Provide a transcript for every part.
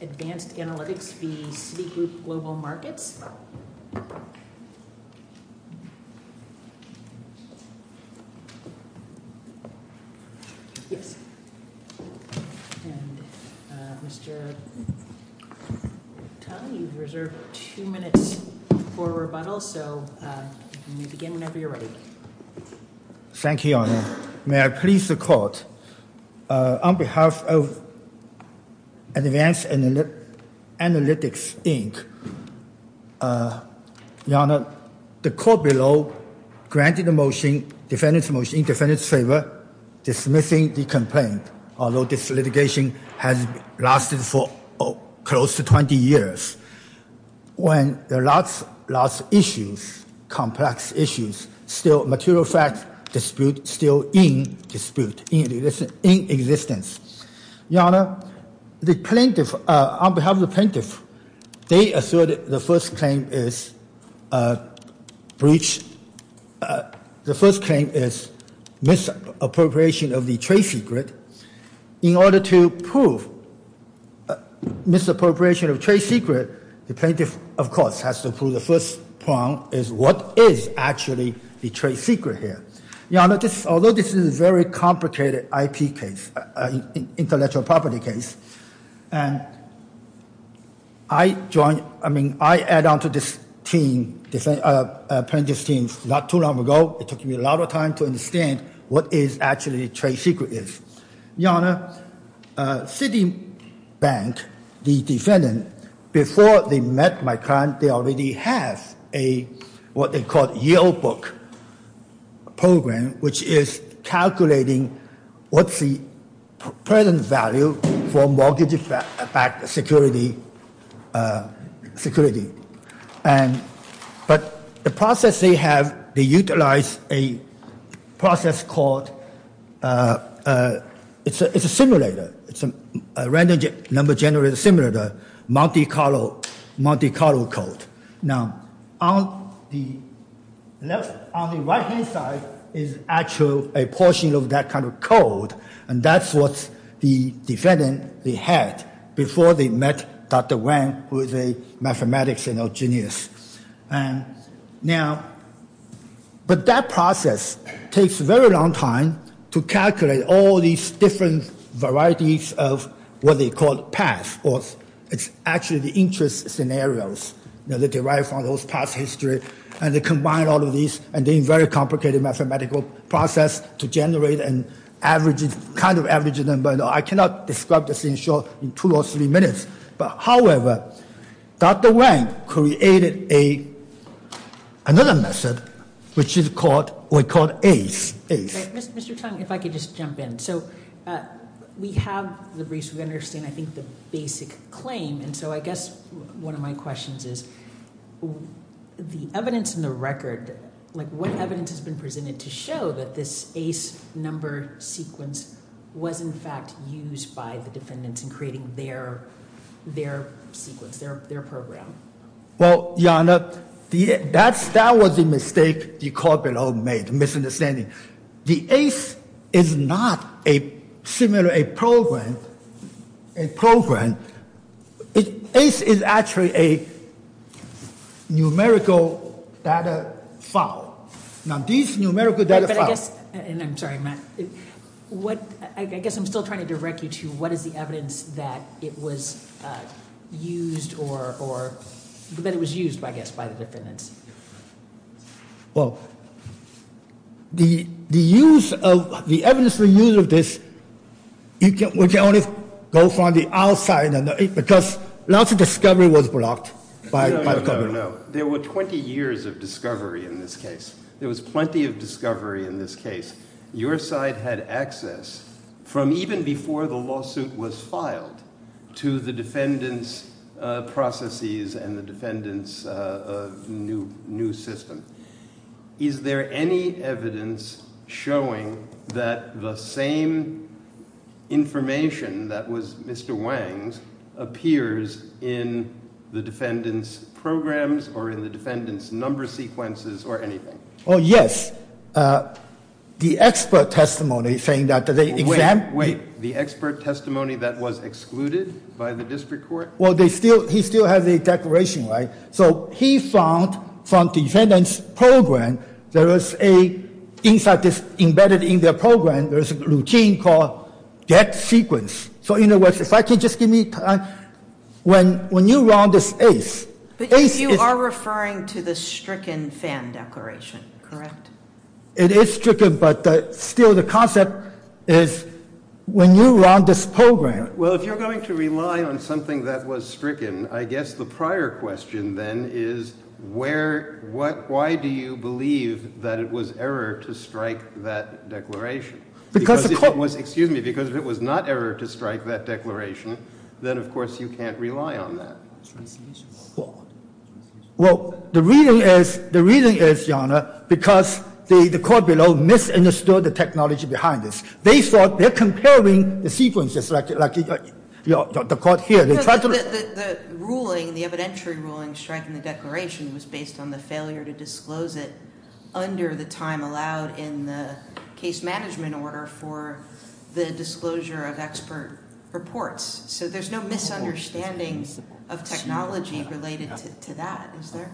Advanced Analytics, Inc. v. Citigroup Global Markets, Inc. Thank you, Your Honor. May I please the court? On behalf of Advanced Analytics, Inc., Your Honor, the court below granted a motion, defendant's motion, in defendant's favor, dismissing the complaint, although this litigation has lasted for close to 20 years. When there are lots of issues, complex issues, still material facts dispute, still in dispute, in existence. Your Honor, the plaintiff, on behalf of the plaintiff, they asserted the first claim is breach, the first claim is misappropriation of the trade secret. In order to prove misappropriation of trade secret, the plaintiff, of course, has to prove the first point is what is actually the trade secret here. Your Honor, although this is a very complicated IP case, intellectual property case, and I joined, I mean, I add on to this team, plaintiff's team, not too long ago, it took me a lot of time to understand what is actually trade secret is. Your Honor, Citibank, the defendant, before they met my client, they already have what they call a yield book program, which is calculating what's the present value for mortgage security, but the process they have, they utilize a process called, it's a simulator. It's a random number generator simulator. Monte Carlo code. Now, on the right-hand side is actually a portion of that kind of code, and that's what the defendant, they had before they met Dr. Wang, who is a mathematics genius. But that process takes a very long time to calculate all these different varieties of what they call past, or it's actually the interest scenarios that they write from those past history, and they combine all of these, and then very complicated mathematical process to generate an average, kind of average number. I cannot describe this in short, in two or three minutes, but however, Dr. Wang created another method, which is called, we call ACE. Mr. Tang, if I could just jump in. So we have the reason we understand, I think, the basic claim. And so I guess one of my questions is, the evidence in the record, what evidence has been presented to show that this ACE number sequence was, in fact, used by the defendants in creating their sequence, their program? Well, Your Honor, that was a mistake the corporate home made, a misunderstanding. The ACE is not, similarly, a program. ACE is actually a numerical data file. Now, these numerical data files. But I guess, and I'm sorry, Matt. I guess I'm still trying to direct you to what is the evidence that it was used, I guess, by the defendants? Well, the evidence we use of this, which only goes on the outside, because lots of discovery was blocked by the government. There were 20 years of discovery in this case. There was plenty of discovery in this case. Your side had access, from even before the lawsuit was filed, to the defendants' processes and the defendants' new ways to new system. Is there any evidence showing that the same information that was Mr. Wang's appears in the defendants' programs or in the defendants' number sequences or anything? Oh, yes. The expert testimony saying that the exam. Wait, the expert testimony that was excluded by the district court? Well, he still has a declaration, right? So he found, from defendants' program, there was a, inside this embedded in their program, there is a routine called get sequence. So in other words, if I could just give me time. When you run this case, case is- But you are referring to the stricken fan declaration, correct? It is stricken, but still the concept is when you run this program- Well, if you're going to rely on something that was stricken, I guess the prior question, then, is why do you believe that it was error to strike that declaration? Because the court- Excuse me, because if it was not error to strike that declaration, then, of course, you can't rely on that. Well, the reason is, the reason is, Your Honor, because the court below misunderstood the technology behind this. They thought they're comparing the sequences, like the court here. The ruling, the evidentiary ruling, striking the declaration was based on the failure to disclose it under the time allowed in the case management order for the disclosure of expert reports. So there's no misunderstandings of technology related to that, is there?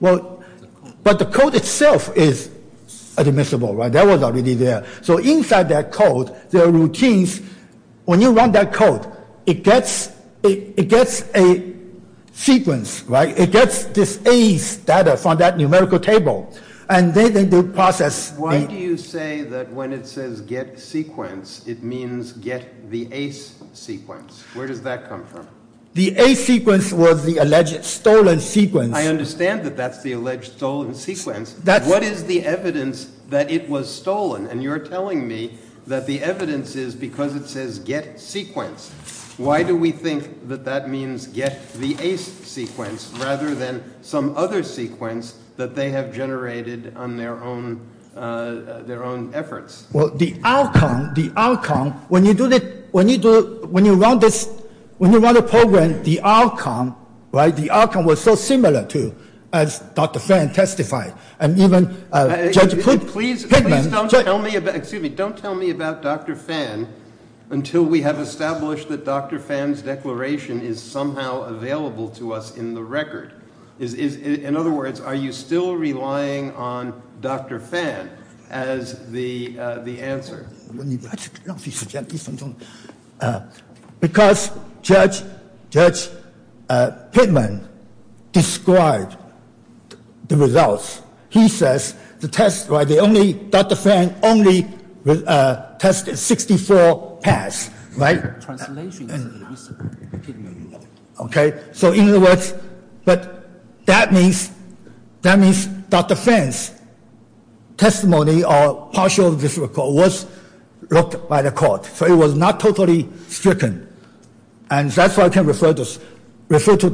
Well, but the code itself is admissible, right? That was already there. So inside that code, there are routines. When you run that code, it gets a sequence, right? It gets this ace data from that numerical table, and then they process- Why do you say that when it says get sequence, it means get the ace sequence? Where does that come from? The ace sequence was the alleged stolen sequence. I understand that that's the alleged stolen sequence. What is the evidence that it was stolen? And you're telling me that the evidence is because it says get sequence. Why do we think that that means get the ace sequence rather than some other sequence that they have generated on their own efforts? Well, the outcome, when you run the program, the outcome was so similar to, as Dr. Fan testified, and even Judge Pittman- Please don't tell me about Dr. Fan until we have established that Dr. Fan's declaration is somehow available to us in the record. In other words, are you still relying on Dr. Fan as the answer? Because Judge Pittman described the results. He says the test, right, the only, Dr. Fan only tested 64 pads, right? Translation, Mr. Pittman. Okay, so in other words, but that means Dr. Fan's testimony or partial of this record was looked by the court, so it was not totally stricken. And that's why I can refer to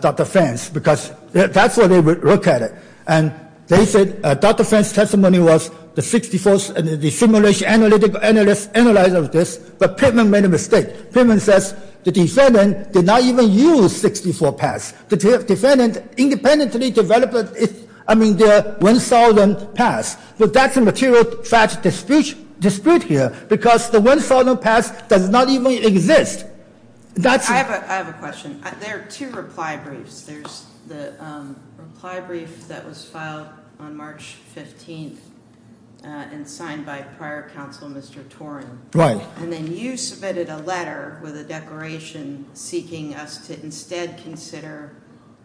Dr. Fan's that's why they would look at it. And they said Dr. Fan's testimony was the 64th, the simulation analyzer of this, but Pittman made a mistake. Pittman says the defendant did not even use 64 pads. The defendant independently developed, I mean, the 1,000 pads. But that's a material fact dispute here because the 1,000 pads does not even exist. That's- I have a question. There are two reply briefs. There's the reply brief that was filed on March 15th and signed by prior counsel, Mr. Toren. Right. And then you submitted a letter with a declaration seeking us to instead consider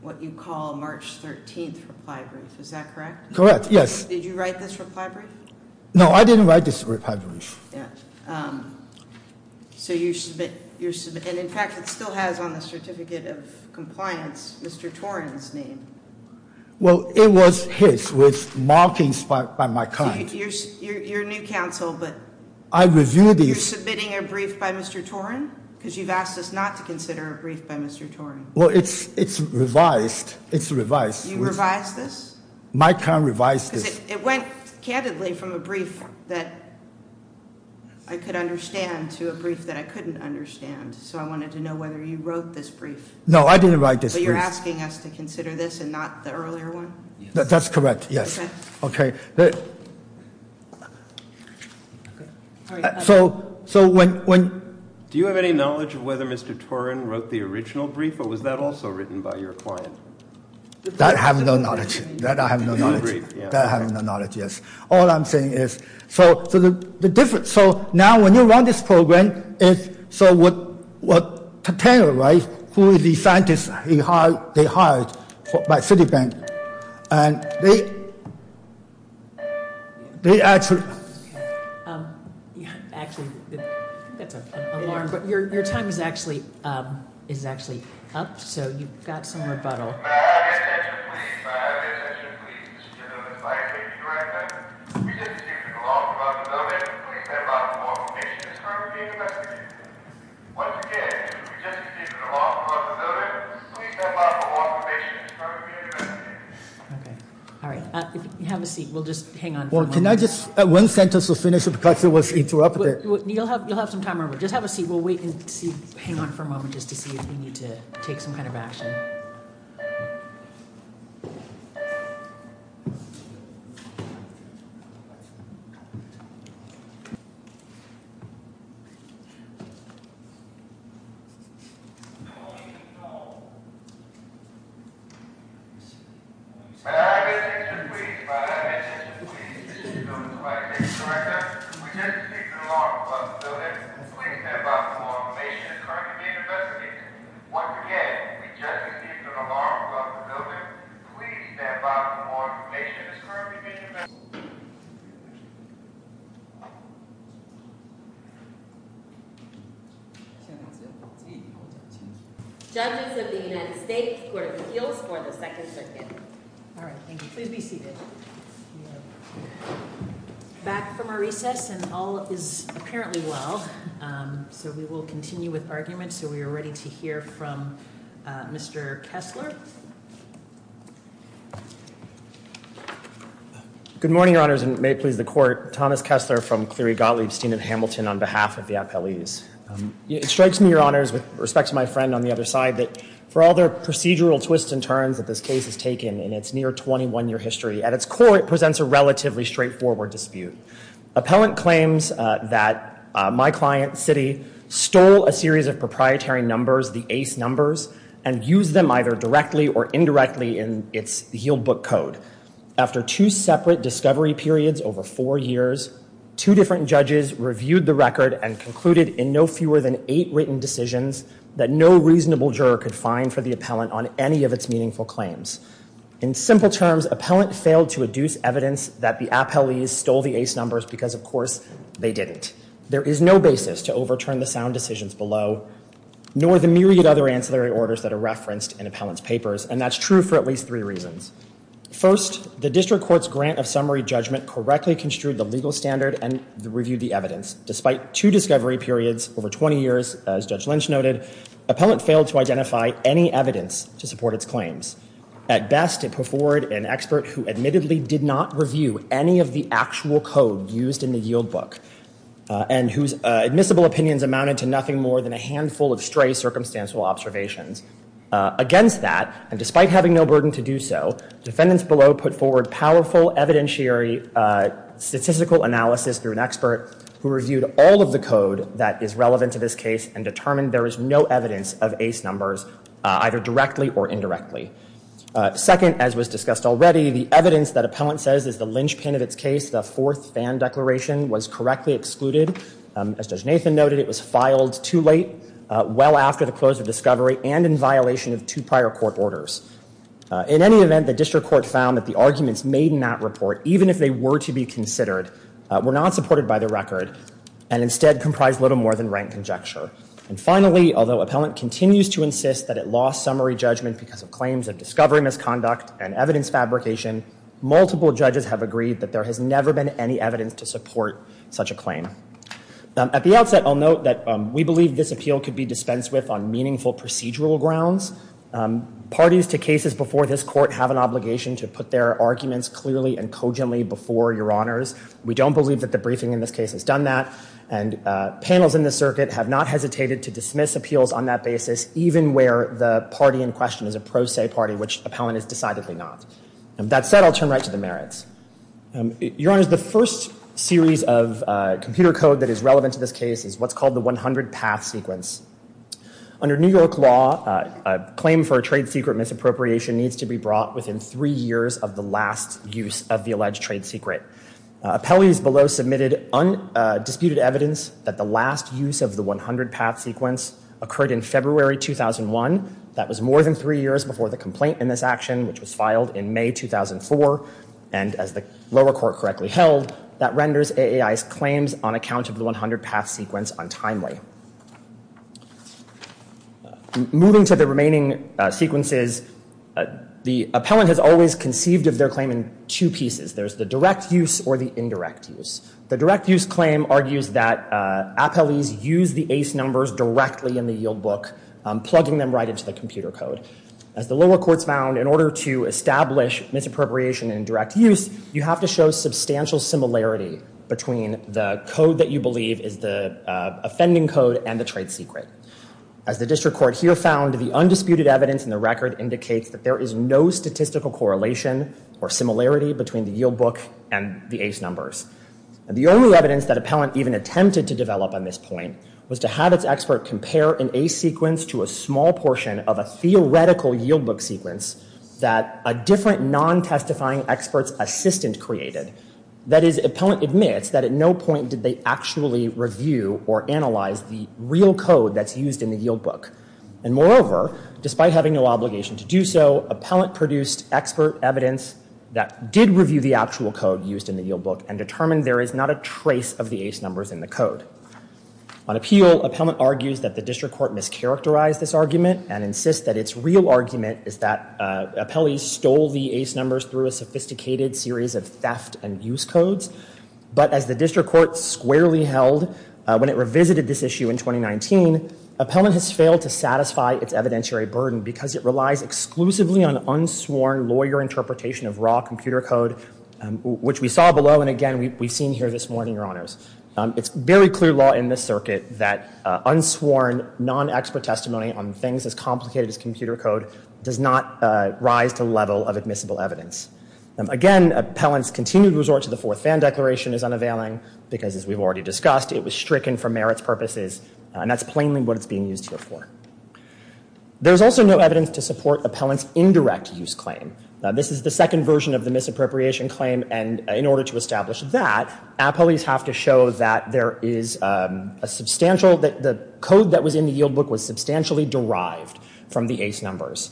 what you call March 13th reply brief. Is that correct? Correct, yes. Did you write this reply brief? No, I didn't write this reply brief. Yeah, so you submit, and in fact, it still has on the certificate of compliance, Mr. Toren's name. Well, it was his with markings by my kind. You're new counsel, but- I reviewed it. You're submitting a brief by Mr. Toren? Because you've asked us not to consider a brief by Mr. Toren. Well, it's revised. It's revised. You revised this? My kind revised this. It went candidly from a brief that I could understand to a brief that I couldn't understand. So I wanted to know whether you wrote this brief. No, I didn't write this brief. But you're asking us to consider this and not the earlier one? That's correct, yes. So when- Do you have any knowledge of whether Mr. Toren wrote the original brief, or was that also written by your client? That I have no knowledge. That I have no knowledge. Not a brief, yeah. That I have no knowledge, yes. All I'm saying is, so the difference, so now when you run this program, so what, who is the scientist they hired by Citibank, and they, they actually- Actually, I think that's an alarm, but your time is actually up, so you've got some rebuttal. May I have your attention, please? May I have your attention, please? Mr. Chairman, this is Mike. Thank you very much. We didn't see you for long. We'd love to know that. Please stand by for more information as part of the interview. Once again, we just received an off-close notice. Please stand by for more information as part of the interview. Okay, all right, have a seat. We'll just hang on for a moment. Well, can I just, at one sentence, we'll finish it because it was interrupted. You'll have some time, remember. Just have a seat. We'll wait and see, hang on for a moment just to see if we need to take some kind of action. No, no, no. May I have your attention, please? May I have your attention, please? Mr. Chairman, this is Mike. Thank you very much. We just received an alarm about the building. Please stand by for more information as part of the interview. Once again, we just received an alarm about the building. Please stand by for more information as part of the interview. Judges of the United States, Court of Appeals for the Second Circuit. All right, thank you. Please be seated. Back from our recess, and all is apparently well. So we will continue with arguments. So we are ready to hear from Mr. Kessler. Good morning, Your Honors, and may it please the Court. Thomas Kessler from Cleary County. We got Liebstein and Hamilton on behalf of the appellees. It strikes me, Your Honors, with respect to my friend on the other side, that for all their procedural twists and turns that this case has taken in its near 21-year history, at its core, it presents a relatively straightforward dispute. Appellant claims that my client, Citi, stole a series of proprietary numbers, the ace numbers, and used them either directly or indirectly in its yield book code. After two separate discovery periods over four years, two different judges reviewed the record and concluded in no fewer than eight written decisions that no reasonable juror could find for the appellant on any of its meaningful claims. In simple terms, appellant failed to adduce evidence that the appellees stole the ace numbers because, of course, they didn't. There is no basis to overturn the sound decisions below, nor the myriad other ancillary orders that are referenced in appellant's papers. And that's true for at least three reasons. First, the district court's grant of summary judgment correctly construed the legal standard and reviewed the evidence. Despite two discovery periods over 20 years, as Judge Lynch noted, appellant failed to identify any evidence to support its claims. At best, it put forward an expert who admittedly did not review any of the actual code used in the yield book and whose admissible opinions amounted to nothing more than a handful of stray circumstantial observations. Against that, and despite having no burden to do so, defendants below put forward powerful evidentiary statistical analysis through an expert who reviewed all of the code that is relevant to this case and determined there is no evidence of ace numbers, either directly or indirectly. Second, as was discussed already, the evidence that appellant says is the linchpin of its case, the fourth fan declaration, was correctly excluded. As Judge Nathan noted, it was filed too late, well after the close of discovery, and in violation of two prior court orders. In any event, the district court found that the arguments made in that report, even if they were to be considered, were not supported by the record and instead comprised little more than rank conjecture. And finally, although appellant continues to insist that it lost summary judgment because of claims of discovery misconduct and evidence fabrication, multiple judges have agreed that there has never been any evidence to support such a claim. At the outset, I'll note that we believe this appeal could be dispensed with on meaningful procedural grounds. Parties to cases before this court have an obligation to put their arguments clearly and cogently before your honors. We don't believe that the briefing in this case has done that. And panels in the circuit have not hesitated to dismiss appeals on that basis, even where the party in question is a pro se party, which appellant is decidedly not. That said, I'll turn right to the merits. Your honors, the first series of computer code that is relevant to this case is what's called the 100 path sequence. Under New York law, a claim for a trade secret misappropriation needs to be brought within three years of the last use of the alleged trade secret. Appellees below submitted undisputed evidence that the last use of the 100 path sequence occurred in February 2001. That was more than three years before the complaint in this action, which was filed in May 2004. And as the lower court correctly held, that renders AAI's claims on account of the 100 path sequence untimely. Moving to the remaining sequences, the appellant has always conceived of their claim in two pieces. There's the direct use or the indirect use. The direct use claim argues that appellees use the ace numbers directly in the yield book, plugging them right into the computer code. As the lower courts found, in order to establish misappropriation in direct use, you have to show substantial similarity between the code that you believe is the offending code and the trade secret. As the district court here found, the undisputed evidence in the record indicates that there is no statistical correlation or similarity between the yield book and the ace numbers. The only evidence that appellant even attempted to develop on this point was to have its expert compare an ace sequence to a small portion of a theoretical yield book sequence that a different non-testifying experts assistant created. That is, appellant admits that at no point did they actually review or analyze the real code that's used in the yield book. And moreover, despite having no obligation to do so, appellant produced expert evidence that did review the actual code used in the yield book and determined there is not a trace of the ace numbers in the code. On appeal, appellant argues that the district court mischaracterized this argument and insists that its real argument is that appellees stole the ace numbers through a sophisticated series of theft and use codes. But as the district court squarely held when it revisited this issue in 2019, appellant has failed to satisfy its evidentiary burden because it relies exclusively on unsworn lawyer interpretation of raw computer code, which we saw below and, again, we've seen here this morning, Your Honors. It's very clear law in this circuit that unsworn, non-expert testimony on things as complicated as computer code does not rise to the level of admissible evidence. Again, appellant's continued resort to the Fourth Van Declaration is unavailing because, as we've already discussed, it was stricken for merits purposes, and that's plainly what it's being used here for. There's also no evidence to support appellant's indirect use claim. This is the second version of the misappropriation claim, and in order to establish that, appellees have to show that the code that was in the yield book was substantially derived from the ace numbers.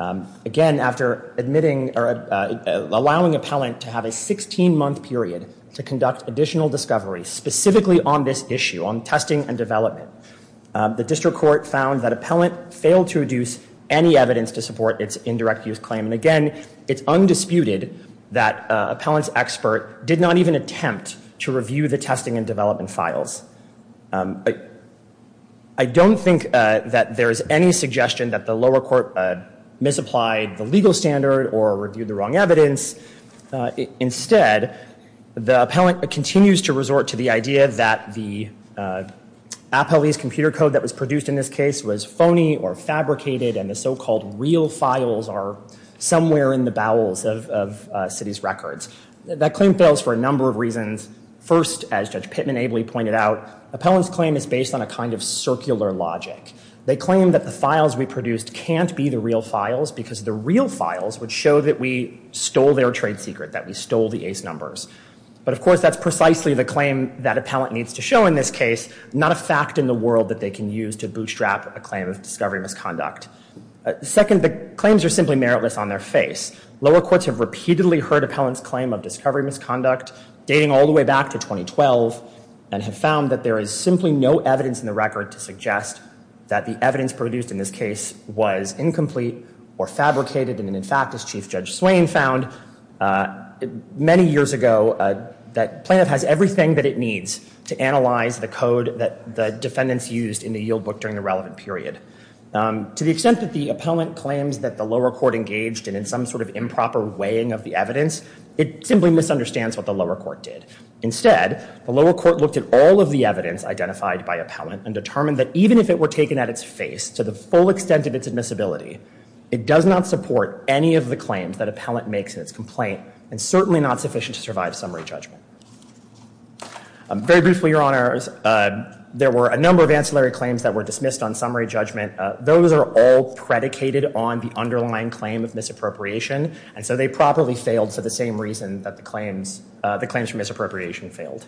Again, after admitting or allowing appellant to have a 16-month period to conduct additional discovery specifically on this issue, on testing and development, the district court found that appellant failed to reduce any evidence to support its indirect use claim. And again, it's undisputed that appellant's expert did not even attempt to review the testing and development files. I don't think that there is any suggestion that the lower court misapplied the legal standard or reviewed the wrong evidence. Instead, the appellant continues to resort to the idea that the appellee's computer code that was produced in this case was phony or fabricated, and the so-called real files are somewhere in the bowels of city's records. That claim fails for a number of reasons. First, as Judge Pitman-Abley pointed out, appellant's claim is based on a kind of circular logic. They claim that the files we produced can't be the real files because the real files would show that we stole their trade secret, that we stole the ace numbers. But of course, that's precisely the claim that appellant needs to show in this case, not a fact in the world that they can use to bootstrap a claim of discovery misconduct. Second, the claims are simply meritless on their face. Lower courts have repeatedly heard appellant's claim of discovery misconduct, dating all the way back to 2012, and have found that there is simply no evidence in the record to suggest that the evidence produced in this case was incomplete or fabricated. And in fact, as Chief Judge Swain found many years ago, that plaintiff has everything that it needs to analyze the code that the defendants used in the yield book during the relevant period. To the extent that the appellant claims that the lower court engaged in some sort of improper weighing of the evidence, it simply misunderstands what the lower court did. Instead, the lower court looked at all of the evidence identified by appellant, and determined that even if it were taken at its face, to the full extent of its admissibility, it does not support any of the claims that appellant makes in its complaint, and certainly not sufficient to survive summary judgment. Very briefly, Your Honors, there were a number of ancillary claims that were dismissed on summary judgment. Those are all predicated on the underlying claim of misappropriation. And so they probably failed for the same reason that the claims for misappropriation failed.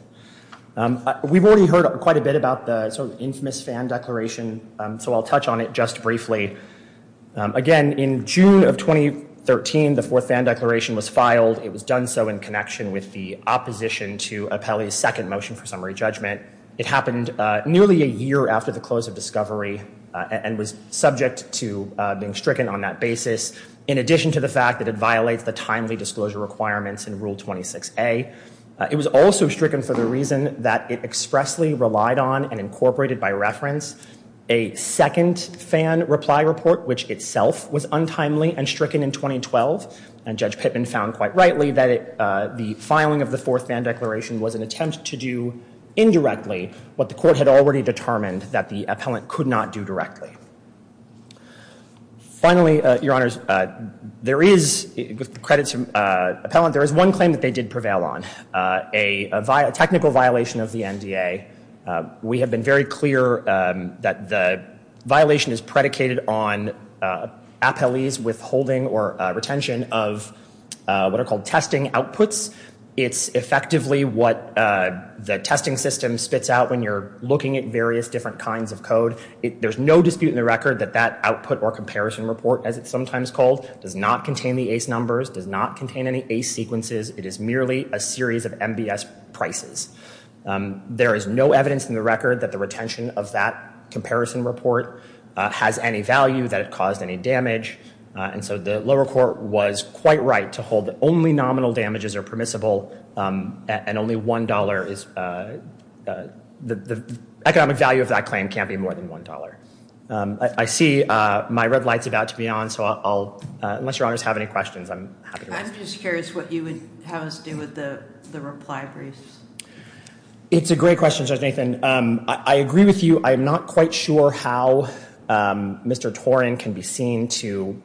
We've already heard quite a bit about the infamous Fan Declaration, so I'll touch on it just briefly. Again, in June of 2013, the fourth Fan Declaration was filed. It was done so in connection with the opposition to appellee's second motion for summary judgment. It happened nearly a year after the close of discovery, and was subject to being stricken on that basis, in addition to the fact that it violates the timely disclosure requirements in Rule 26a. It was also stricken for the reason that it expressly relied on and incorporated by reference a second Fan Reply Report, which itself was untimely and stricken in 2012. And Judge Pittman found quite rightly that the filing of the fourth Fan Declaration was an attempt to do indirectly what the court had already determined that the appellant could not do directly. Finally, Your Honors, there is, with the credits to appellant, there is one claim that they did prevail on, a technical violation of the NDA. We have been very clear that the violation is predicated on appellee's withholding or retention of what are called testing outputs. It's effectively what the testing system spits out when you're looking at various different kinds of code. There's no dispute in the record that that output or comparison report, as it's sometimes called, does not contain the ACE numbers, does not contain any ACE sequences. It is merely a series of MBS prices. There is no evidence in the record that the retention of that comparison report has any value, that it caused any damage. And so the lower court was quite right to hold that only nominal damages are permissible, and only $1 is the economic value of that claim can't be more than $1. I see my red light's about to be on, so I'll, unless your honors have any questions, I'm happy to answer them. I'm just curious what you would have us do with the reply briefs. It's a great question, Judge Nathan. I agree with you. I'm not quite sure how Mr. Toren can be seen to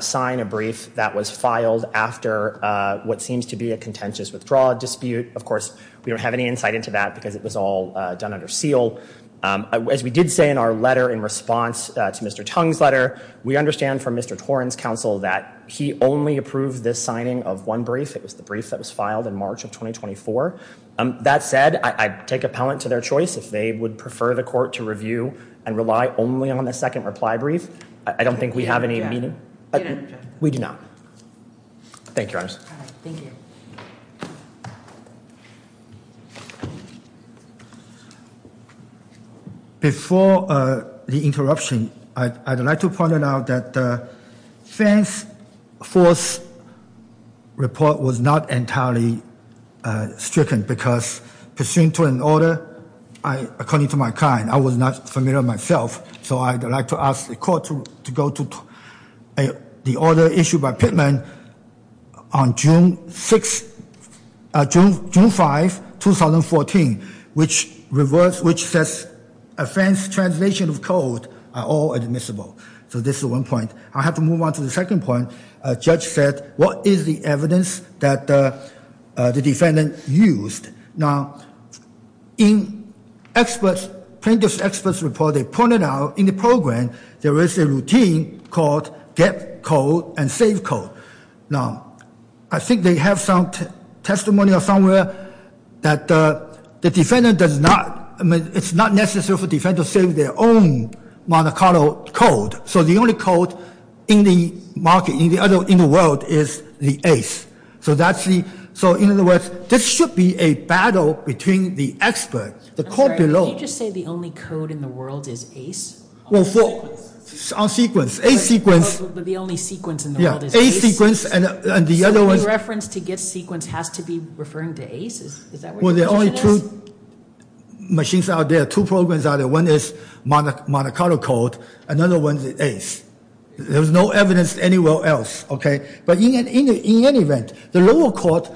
sign a brief that was filed after what seems to be a contentious withdrawal dispute. Of course, we don't have any insight into that because it was all done under seal. As we did say in our letter in response to Mr. Tung's letter, we understand from Mr. Toren's counsel that he only approved this signing of one brief. It was the brief that was filed in March of 2024. That said, I take appellant to their choice if they would prefer the court to review and rely only on the second reply brief. I don't think we have any meaning. We do not. Thank you, your honors. Thank you. Before the interruption, I'd like to point out that Fenn's fourth report was not entirely stricken because pursuant to an order, according to my kind, I was not familiar myself, so I'd like to ask the court to go to the order issued by Pittman on June 6th, June 5th, 2014, which says Fenn's translation of code are all admissible. So this is one point. I have to move on to the second point. Judge said, what is the evidence that the defendant used? Now, in plaintiff's expert's report, they pointed out in the program, there is a routine called get code and save code. Now, I think they have some testimony or somewhere that the defendant does not, I mean, it's not necessary for defendant to save their own monocultural code. So the only code in the market, in the world, is the ace. So that's the, so in other words, this should be a battle between the expert, the court below. I'm sorry, can you just say the only code in the world is ace? Well, on sequence, a sequence. But the only sequence in the world is ace. Yeah, a sequence and the other ones. So any reference to get sequence has to be referring to ace? Is that what the question is? Well, there are only two machines out there, two programs out there. One is monocultural code, another one is ace. There's no evidence anywhere else, okay? But in any event, the lower court,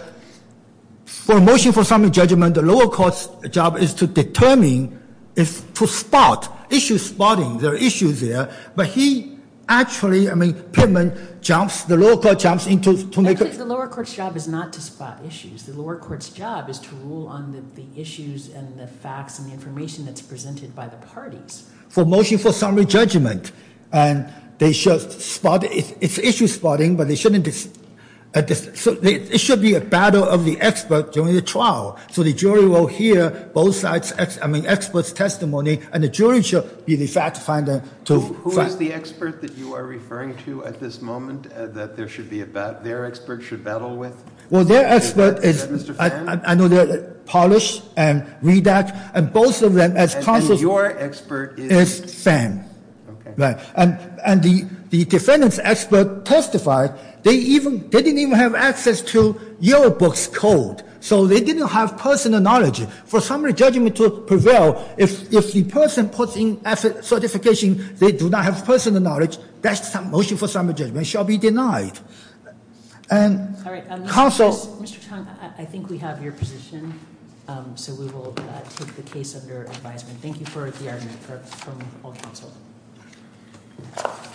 for a motion for summary judgment, the lower court's job is to determine, is to spot, issue spotting. There are issues there, but he actually, I mean, Pittman jumps, the lower court jumps into, to make a- Actually, the lower court's job is not to spot issues. The lower court's job is to rule on the issues and the facts and the information that's presented by the parties. For motion for summary judgment, and they should spot, it's issue spotting, but they shouldn't, so it should be a battle of the expert during the trial. So the jury will hear both sides, I mean, expert's testimony, and the jury should be the fact finder to- Who is the expert that you are referring to at this moment that there should be a battle, their expert should battle with? Well, their expert is- Is that Mr. Fan? I know they're Polish and Redak, and both of them, as counsel- And your expert is- Is Fan. Okay. And the defendant's expert testified, they didn't even have access to your book's code, so they didn't have personal knowledge. For summary judgment to prevail, if the person puts in certification they do not have personal knowledge, that's a motion for summary judgment, shall be denied. And counsel- All right, Mr. Chang, I think we have your position, so we will take the case under advisement. Thank you for the argument from all counsel.